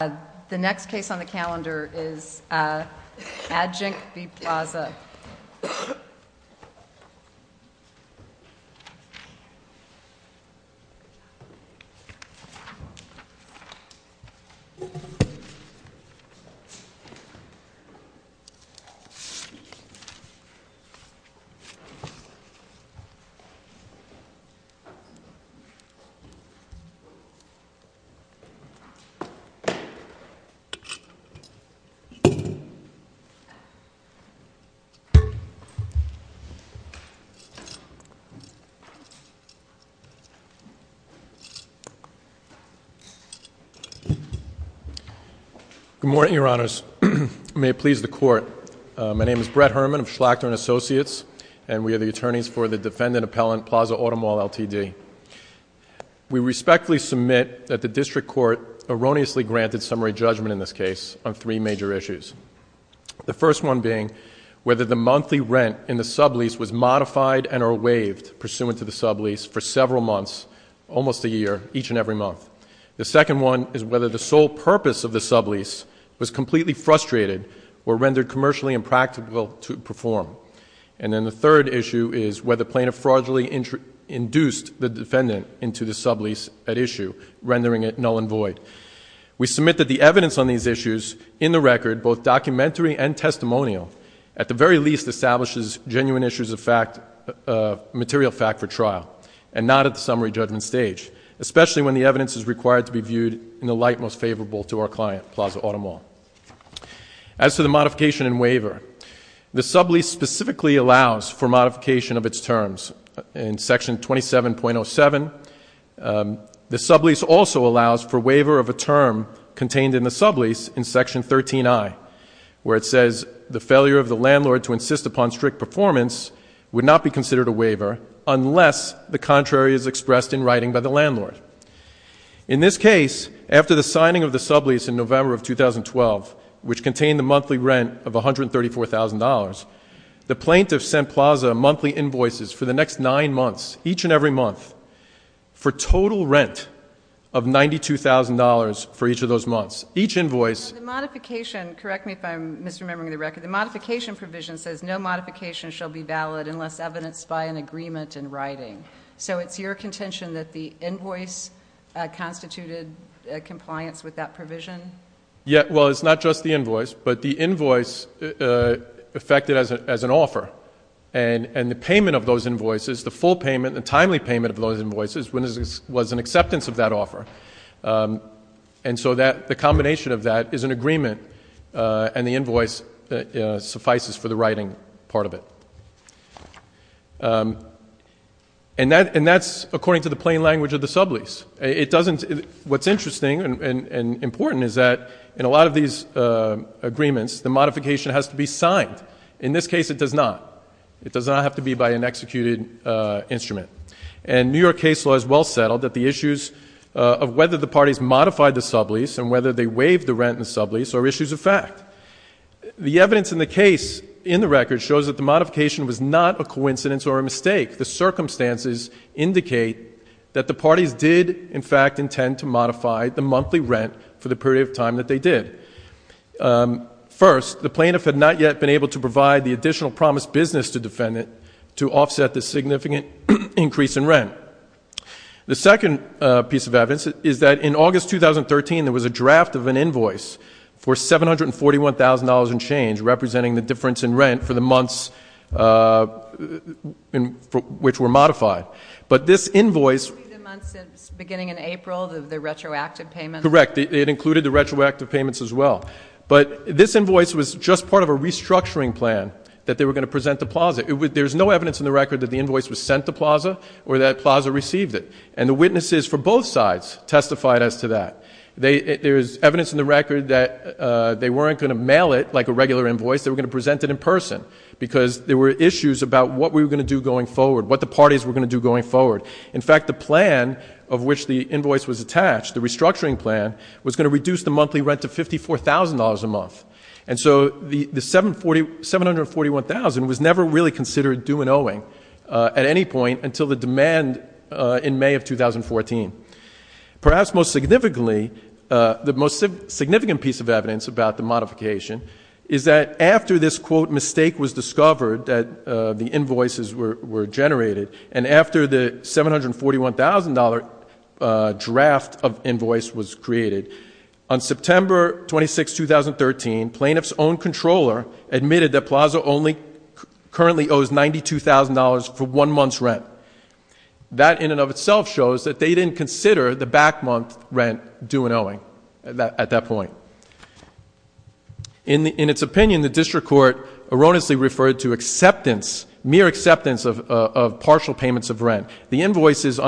The next case on the calendar is Adginc v. Plaza Good morning, your honors. May it please the court. My name is Brett Herman of Schlachter and Associates, and we are the attorneys for the defendant appellant, Plaza Automall, Ltd. We respectfully submit that the district court erroneously granted summary judgment in this case on three major issues. The first one being whether the monthly rent in the sublease was modified and or waived pursuant to the sublease for several months, almost a year, each and every month. The second one is whether the sole purpose of the sublease was completely frustrated or rendered commercially impractical to perform. And then the third issue is whether plaintiff fraudulently induced the defendant into the sublease at issue, rendering it null and void. We submit that the evidence on these issues in the record, both documentary and testimonial, at the very least establishes genuine issues of material fact for trial, and not at the summary judgment stage, especially when the evidence is required to be viewed in the light most favorable to our client, Plaza Automall. As to the modification and waiver, the sublease specifically allows for modification of its terms. In Section 27.07, the sublease also allows for waiver of a term contained in the sublease in Section 13i, where it says the failure of the landlord to insist upon strict performance would not be considered a waiver unless the contrary is expressed in writing by the landlord. In this case, after the signing of the sublease in November of 2012, which contained the monthly rent of $134,000, the plaintiff sent Plaza monthly invoices for the next nine months, each and every month, for total rent of $92,000 for each of those months. Each invoice- The modification, correct me if I'm misremembering the record. The modification provision says no modification shall be valid unless evidenced by an agreement in writing. So it's your contention that the invoice constituted compliance with that provision? Yeah. Well, it's not just the invoice, but the invoice affected as an offer. And the payment of those invoices, the full payment, the timely payment of those invoices, was an acceptance of that offer. And so the combination of that is an agreement, and the invoice suffices for the writing part of it. And that's according to the plain language of the sublease. It doesn't- What's interesting and important is that in a lot of these agreements, the modification has to be signed. In this case, it does not. It does not have to be by an executed instrument. And New York case law is well settled that the issues of whether the parties modified the sublease and whether they waived the rent in the sublease are issues of fact. The evidence in the case in the record shows that the modification was not a coincidence or a mistake. The circumstances indicate that the parties did, in fact, intend to modify the monthly rent for the period of time that they did. First, the plaintiff had not yet been able to provide the additional promised business to defendant to offset the significant increase in rent. The second piece of evidence is that in August 2013, there was a draft of an invoice for $741,000 in change, representing the difference in rent for the months which were modified. But this invoice- The months beginning in April, the retroactive payments. Correct. It included the retroactive payments as well. But this invoice was just part of a restructuring plan that they were going to present to Plaza. There's no evidence in the record that the invoice was sent to Plaza or that Plaza received it. And the witnesses for both sides testified as to that. There's evidence in the record that they weren't going to mail it like a regular invoice. They were going to present it in person because there were issues about what we were going to do going forward, what the parties were going to do going forward. In fact, the plan of which the invoice was attached, the restructuring plan, was going to reduce the monthly rent to $54,000 a month. And so the $741,000 was never really considered due in owing at any point until the demand in May of 2014. Perhaps most significantly, the most significant piece of evidence about the modification is that after this, quote, mistake was discovered, that the invoices were generated, and after the $741,000 draft of invoice was created, on September 26, 2013, plaintiff's own controller admitted that Plaza only currently owes $92,000 for one month's rent. That in and of itself shows that they didn't consider the back month rent due in owing at that point. In its opinion, the district court erroneously referred to acceptance, mere acceptance of partial payments of rent. The invoices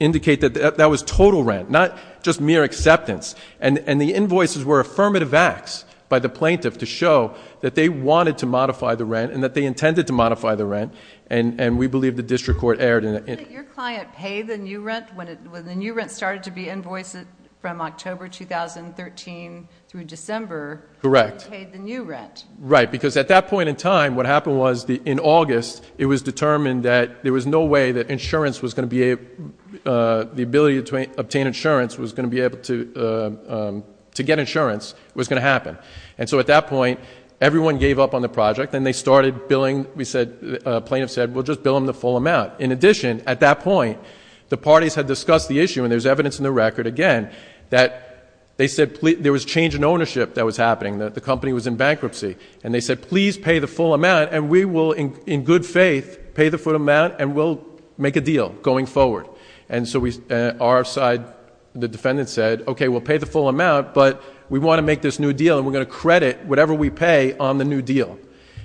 indicate that that was total rent, not just mere acceptance. And the invoices were affirmative acts by the plaintiff to show that they wanted to modify the rent and that they intended to modify the rent, and we believe the district court erred in it. Didn't your client pay the new rent when the new rent started to be invoiced from October 2013 through December? Correct. He paid the new rent. Right, because at that point in time, what happened was in August, it was determined that there was no way that the ability to obtain insurance was going to be able to get insurance. It was going to happen. And so at that point, everyone gave up on the project, and they started billing. The plaintiff said, well, just bill them the full amount. In addition, at that point, the parties had discussed the issue, and there's evidence in the record again, that they said there was change in ownership that was happening, that the company was in bankruptcy. And they said, please pay the full amount, and we will, in good faith, pay the full amount, and we'll make a deal going forward. And so our side, the defendant said, okay, we'll pay the full amount, but we want to make this new deal, and we're going to credit whatever we pay on the new deal.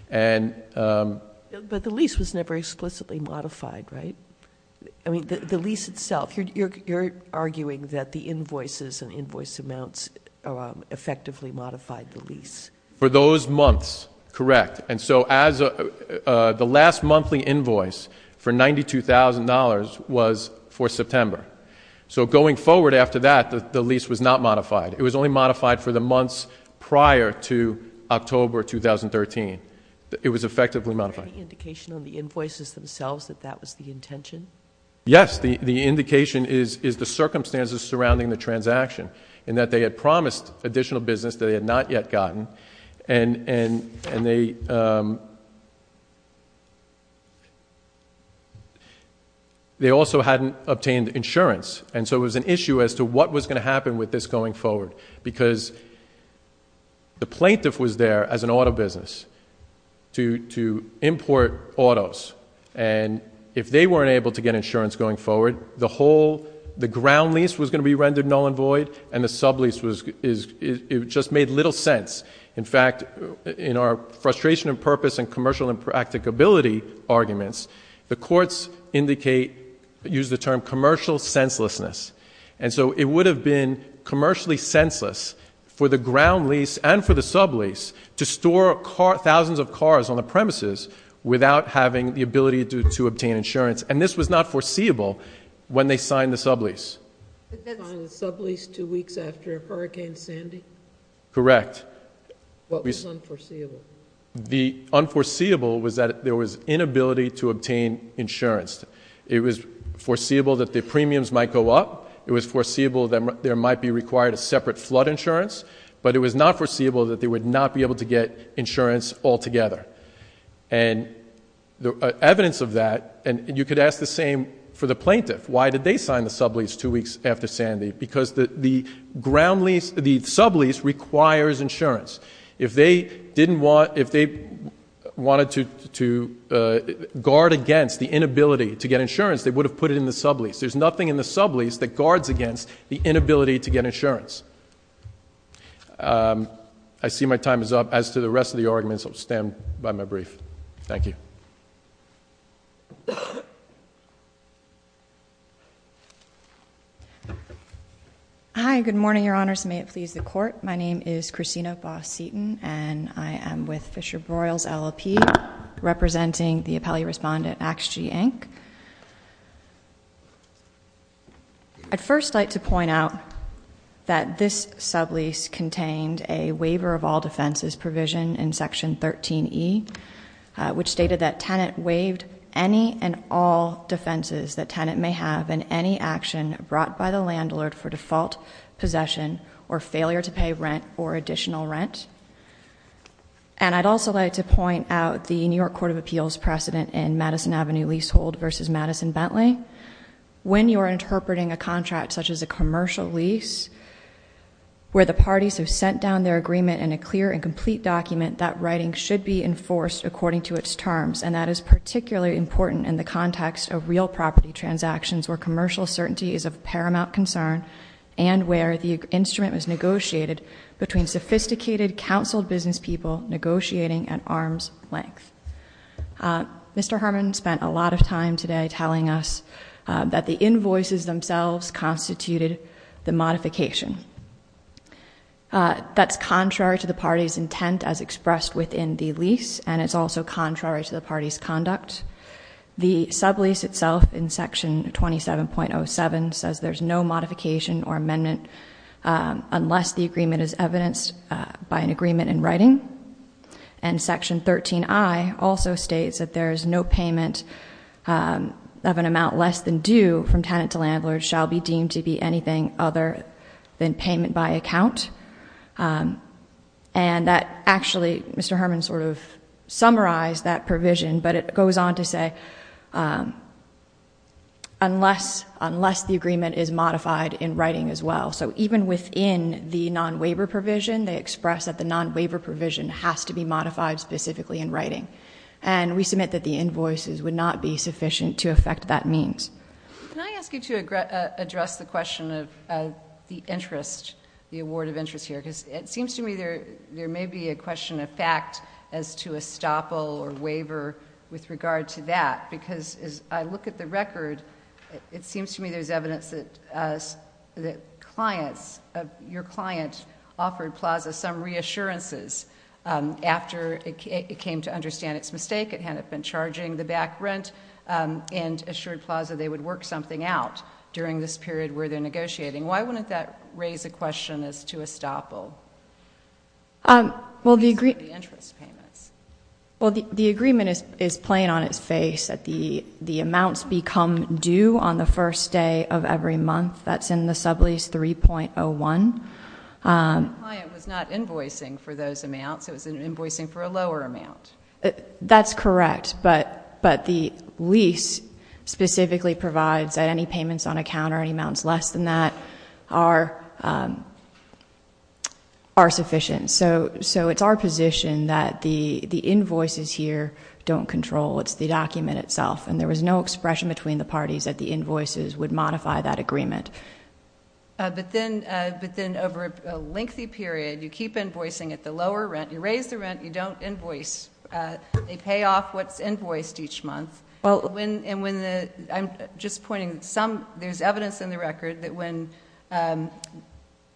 But the lease was never explicitly modified, right? I mean, the lease itself. You're arguing that the invoices and invoice amounts effectively modified the lease. For those months, correct. And so the last monthly invoice for $92,000 was for September. So going forward after that, the lease was not modified. It was only modified for the months prior to October 2013. It was effectively modified. Is there any indication on the invoices themselves that that was the intention? Yes. The indication is the circumstances surrounding the transaction, in that they had promised additional business that they had not yet gotten, and they also hadn't obtained insurance. And so it was an issue as to what was going to happen with this going forward, because the plaintiff was there as an auto business to import autos, and if they weren't able to get insurance going forward, the ground lease was going to be rendered null and void, and the sublease just made little sense. In fact, in our frustration of purpose and commercial impracticability arguments, the courts indicate, use the term commercial senselessness. And so it would have been commercially senseless for the ground lease and for the sublease to store thousands of cars on the premises without having the ability to obtain insurance, and this was not foreseeable when they signed the sublease. They signed the sublease two weeks after Hurricane Sandy? Correct. What was unforeseeable? The unforeseeable was that there was inability to obtain insurance. It was foreseeable that the premiums might go up. It was foreseeable that there might be required a separate flood insurance, but it was not foreseeable that they would not be able to get insurance altogether. And evidence of that, and you could ask the same for the plaintiff. Why did they sign the sublease two weeks after Sandy? Because the ground lease, the sublease requires insurance. If they wanted to guard against the inability to get insurance, they would have put it in the sublease. There's nothing in the sublease that guards against the inability to get insurance. I see my time is up. As to the rest of the arguments, I'll stand by my brief. Thank you. Hi. Good morning, Your Honors. May it please the Court. My name is Christina Boss-Seaton, and I am with Fisher-Broyles LLP, representing the appellee respondent, AXGE, Inc. I'd first like to point out that this sublease contained a waiver of all defenses provision in Section 13E, which stated that tenant waived any and all defenses that tenant may have in any action brought by the landlord for default possession or failure to pay rent or additional rent. And I'd also like to point out the New York Court of Appeals precedent in Madison Avenue leasehold versus Madison-Bentley. When you are interpreting a contract such as a commercial lease, where the parties have sent down their agreement in a clear and complete document, that writing should be enforced according to its terms, and that is particularly important in the context of real property transactions where commercial certainty is of paramount concern and where the instrument was negotiated between sophisticated, counseled business people negotiating at arm's length. Mr. Harmon spent a lot of time today telling us that the invoices themselves constituted the modification. That's contrary to the party's intent as expressed within the lease, and it's also contrary to the party's conduct. The sublease itself in Section 27.07 says there's no modification or amendment unless the agreement is evidenced by an agreement in writing. And Section 13i also states that there is no payment of an amount less than due from tenant to landlord shall be deemed to be anything other than payment by account. And that actually, Mr. Harmon sort of summarized that provision, but it goes on to say unless the agreement is modified in writing as well. So even within the non-waiver provision, they express that the non-waiver provision has to be modified specifically in writing. And we submit that the invoices would not be sufficient to affect that means. Can I ask you to address the question of the interest, the award of interest here? Because it seems to me there may be a question of fact as to estoppel or waiver with regard to that, because as I look at the record, it seems to me there's evidence that clients, your client offered Plaza some reassurances after it came to understand its mistake, it hadn't been charging the back rent, and assured Plaza they would work something out during this period where they're negotiating. Why wouldn't that raise a question as to estoppel? Well, the agreement is plain on its face. The amounts become due on the first day of every month. That's in the sublease 3.01. The client was not invoicing for those amounts. It was invoicing for a lower amount. That's correct, but the lease specifically provides that any payments on account or any amounts less than that are sufficient. So it's our position that the invoices here don't control. It's the document itself, and there was no expression between the parties that the invoices would modify that agreement. But then over a lengthy period, you keep invoicing at the lower rent. You raise the rent. You don't invoice. They pay off what's invoiced each month. I'm just pointing. There's evidence in the record that when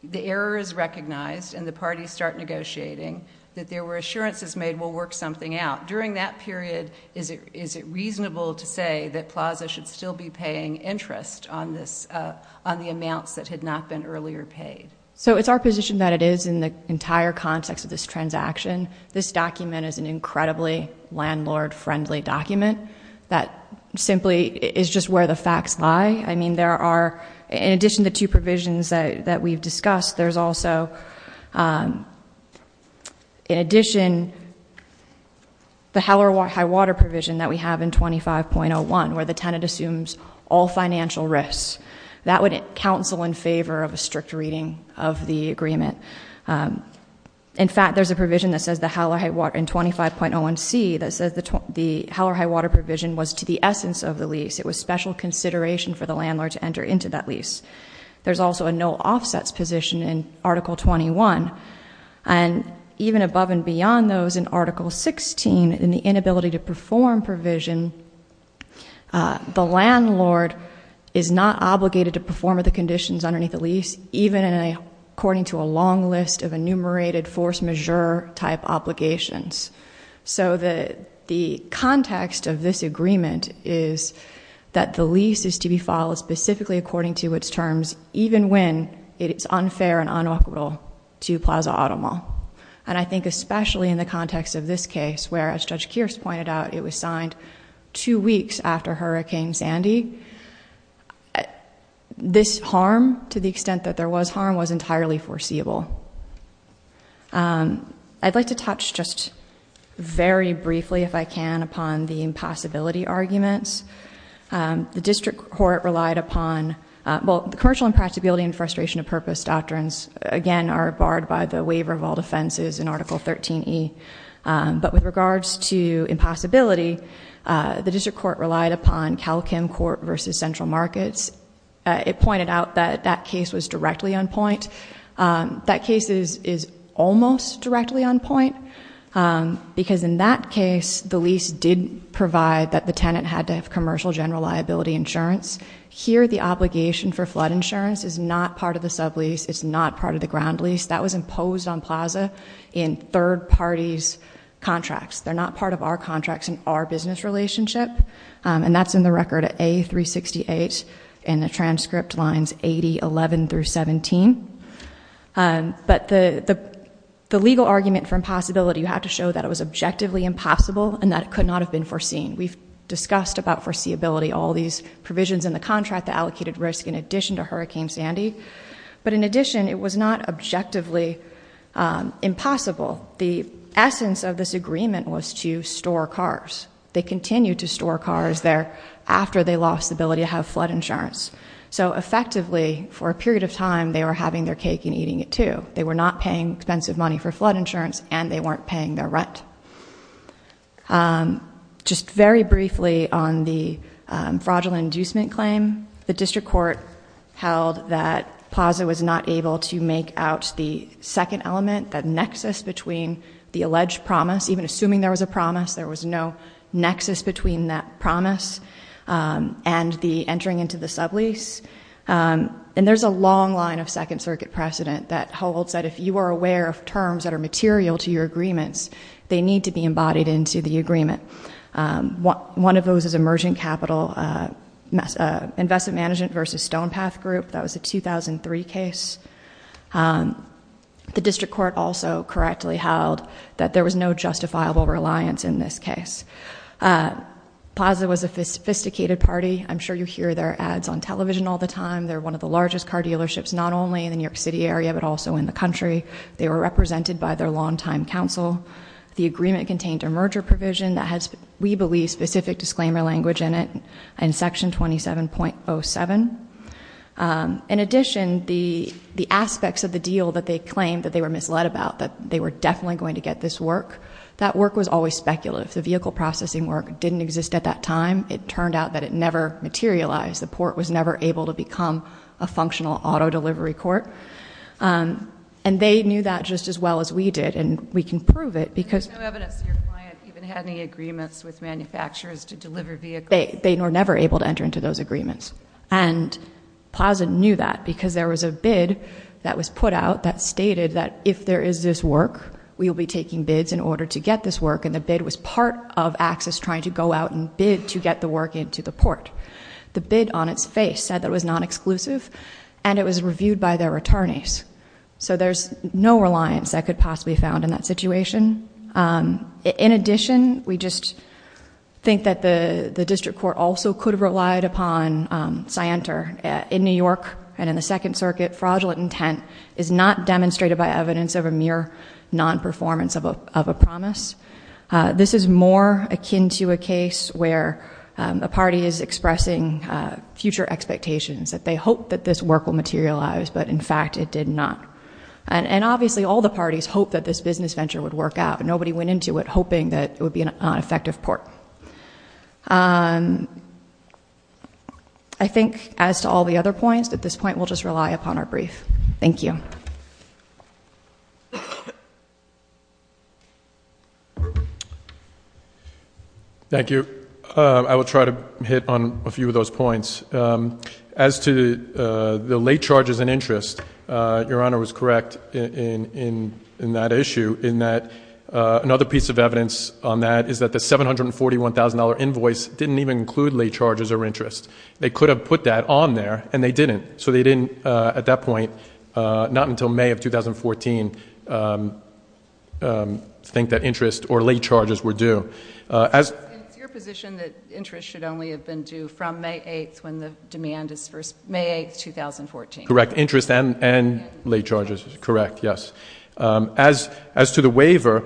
the error is recognized and the parties start negotiating, that there were assurances made we'll work something out. During that period, is it reasonable to say that Plaza should still be paying interest on the amounts that had not been earlier paid? So it's our position that it is in the entire context of this transaction. This document is an incredibly landlord-friendly document that simply is just where the facts lie. I mean, there are, in addition to the two provisions that we've discussed, there's also, in addition, the high water provision that we have in 25.01 where the tenant assumes all financial risks. That would counsel in favor of a strict reading of the agreement. In fact, there's a provision in 25.01c that says the high water provision was to the essence of the lease. It was special consideration for the landlord to enter into that lease. There's also a no offsets position in Article 21. And even above and beyond those in Article 16, in the inability to perform provision, the landlord is not obligated to perform the conditions underneath the lease, even according to a long list of enumerated force majeure type obligations. So the context of this agreement is that the lease is to be filed specifically according to its terms, even when it is unfair and unequivocal to Plaza Auto Mall. And I think especially in the context of this case where, as Judge Kearse pointed out, it was signed two weeks after Hurricane Sandy, this harm, to the extent that there was harm, was entirely foreseeable. I'd like to touch just very briefly, if I can, upon the impossibility arguments. The district court relied upon, well, the commercial impracticability and frustration of purpose doctrines, again, are barred by the waiver of all defenses in Article 13E. But with regards to impossibility, the district court relied upon Cal Kim Court versus Central Markets. It pointed out that that case was directly on point. That case is almost directly on point, because in that case, the lease did provide that the tenant had to have commercial general liability insurance. Here, the obligation for flood insurance is not part of the sublease. It's not part of the ground lease. That was imposed on Plaza in third parties' contracts. They're not part of our contracts in our business relationship, and that's in the record at A368 in the transcript lines 8011 through 17. But the legal argument for impossibility, you have to show that it was objectively impossible and that it could not have been foreseen. We've discussed about foreseeability, all these provisions in the contract, the allocated risk in addition to Hurricane Sandy. But in addition, it was not objectively impossible. The essence of this agreement was to store cars. They continued to store cars there after they lost the ability to have flood insurance. So effectively, for a period of time, they were having their cake and eating it too. They were not paying expensive money for flood insurance, and they weren't paying their rent. Just very briefly on the fraudulent inducement claim, the district court held that Plaza was not able to make out the second element, that nexus between the alleged promise, even assuming there was a promise, there was no nexus between that promise and the entering into the sublease. And there's a long line of Second Circuit precedent that holds that if you are aware of terms that are material to your agreements, they need to be embodied into the agreement. One of those is emergent capital investment management versus Stonepath Group. That was a 2003 case. The district court also correctly held that there was no justifiable reliance in this case. Plaza was a sophisticated party. I'm sure you hear their ads on television all the time. They're one of the largest car dealerships, not only in the New York City area, but also in the country. They were represented by their longtime counsel. The agreement contained a merger provision that has, we believe, specific disclaimer language in it in Section 27.07. In addition, the aspects of the deal that they claimed that they were misled about, that they were definitely going to get this work, that work was always speculative. The vehicle processing work didn't exist at that time. It turned out that it never materialized. The port was never able to become a functional auto delivery court. And they knew that just as well as we did, and we can prove it because- There's no evidence that your client even had any agreements with manufacturers to deliver vehicles. They were never able to enter into those agreements. And Plaza knew that because there was a bid that was put out that stated that if there is this work, we will be taking bids in order to get this work, and the bid was part of Axis trying to go out and bid to get the work into the port. The bid on its face said that it was non-exclusive, and it was reviewed by their attorneys. So there's no reliance that could possibly be found in that situation. In addition, we just think that the district court also could have relied upon Scienter. In New York and in the Second Circuit, fraudulent intent is not demonstrated by evidence of a mere non-performance of a promise. This is more akin to a case where a party is expressing future expectations, that they hope that this work will materialize, but in fact it did not. And obviously all the parties hoped that this business venture would work out, but nobody went into it hoping that it would be an effective port. I think as to all the other points, at this point we'll just rely upon our brief. Thank you. Thank you. I will try to hit on a few of those points. As to the late charges and interest, Your Honor was correct in that issue, in that another piece of evidence on that is that the $741,000 invoice didn't even include late charges or interest. They could have put that on there, and they didn't. So they didn't, at that point, not until May of 2014, think that interest or late charges were due. It's your position that interest should only have been due from May 8th when the demand is first, May 8th, 2014. Correct, interest and late charges. Correct, yes. As to the waiver,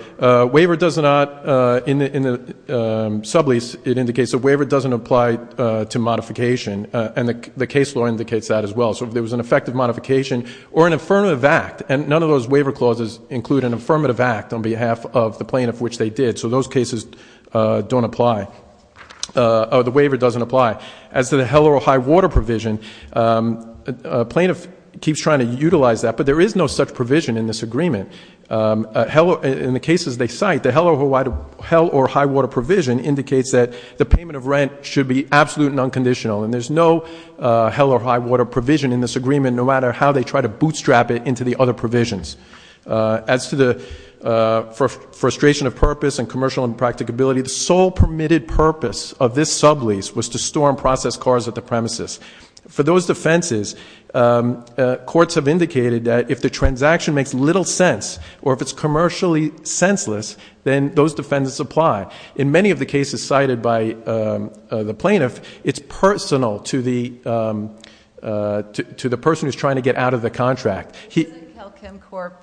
waiver does not, in the sublease it indicates a waiver doesn't apply to modification, and the case law indicates that as well. So if there was an effective modification or an affirmative act, and none of those waiver clauses include an affirmative act on behalf of the plaintiff, which they did, so those cases don't apply, or the waiver doesn't apply. As to the hell or high water provision, plaintiff keeps trying to utilize that, but there is no such provision in this agreement. In the cases they cite, the hell or high water provision indicates that the payment of rent should be absolute and unconditional, and there's no hell or high water provision in this agreement, no matter how they try to bootstrap it into the other provisions. As to the frustration of purpose and commercial impracticability, the sole permitted purpose of this sublease was to store and process cars at the premises. For those defenses, courts have indicated that if the transaction makes little sense, or if it's commercially senseless, then those defenses apply. In many of the cases cited by the plaintiff, it's personal to the person who's trying to get out of the contract. Doesn't Kel Kim Corp.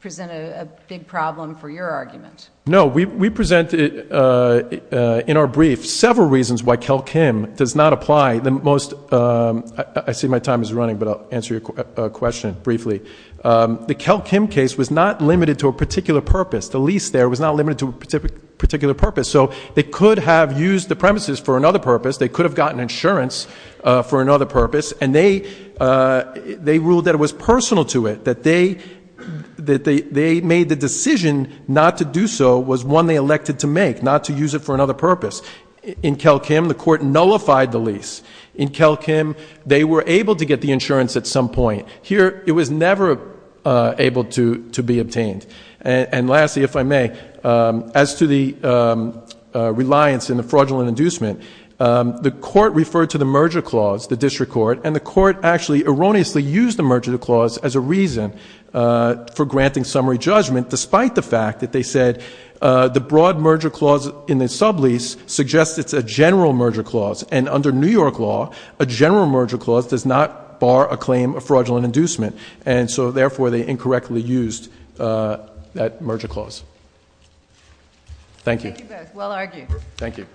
present a big problem for your argument? No. We present in our brief several reasons why Kel Kim does not apply. I see my time is running, but I'll answer your question briefly. The Kel Kim case was not limited to a particular purpose. The lease there was not limited to a particular purpose, so they could have used the premises for another purpose, they could have gotten insurance for another purpose, and they ruled that it was personal to it, that they made the decision not to do so was one they elected to make, not to use it for another purpose. In Kel Kim, the court nullified the lease. In Kel Kim, they were able to get the insurance at some point. Here, it was never able to be obtained. And lastly, if I may, as to the reliance in the fraudulent inducement, the court referred to the merger clause, the district court, and the court actually erroneously used the merger clause as a reason for granting summary judgment, despite the fact that they said the broad merger clause in the sublease suggests it's a general merger clause, and under New York law, a general merger clause does not bar a claim of fraudulent inducement, and so therefore they incorrectly used that merger clause. Thank you. Thank you both. Well argued. Thank you.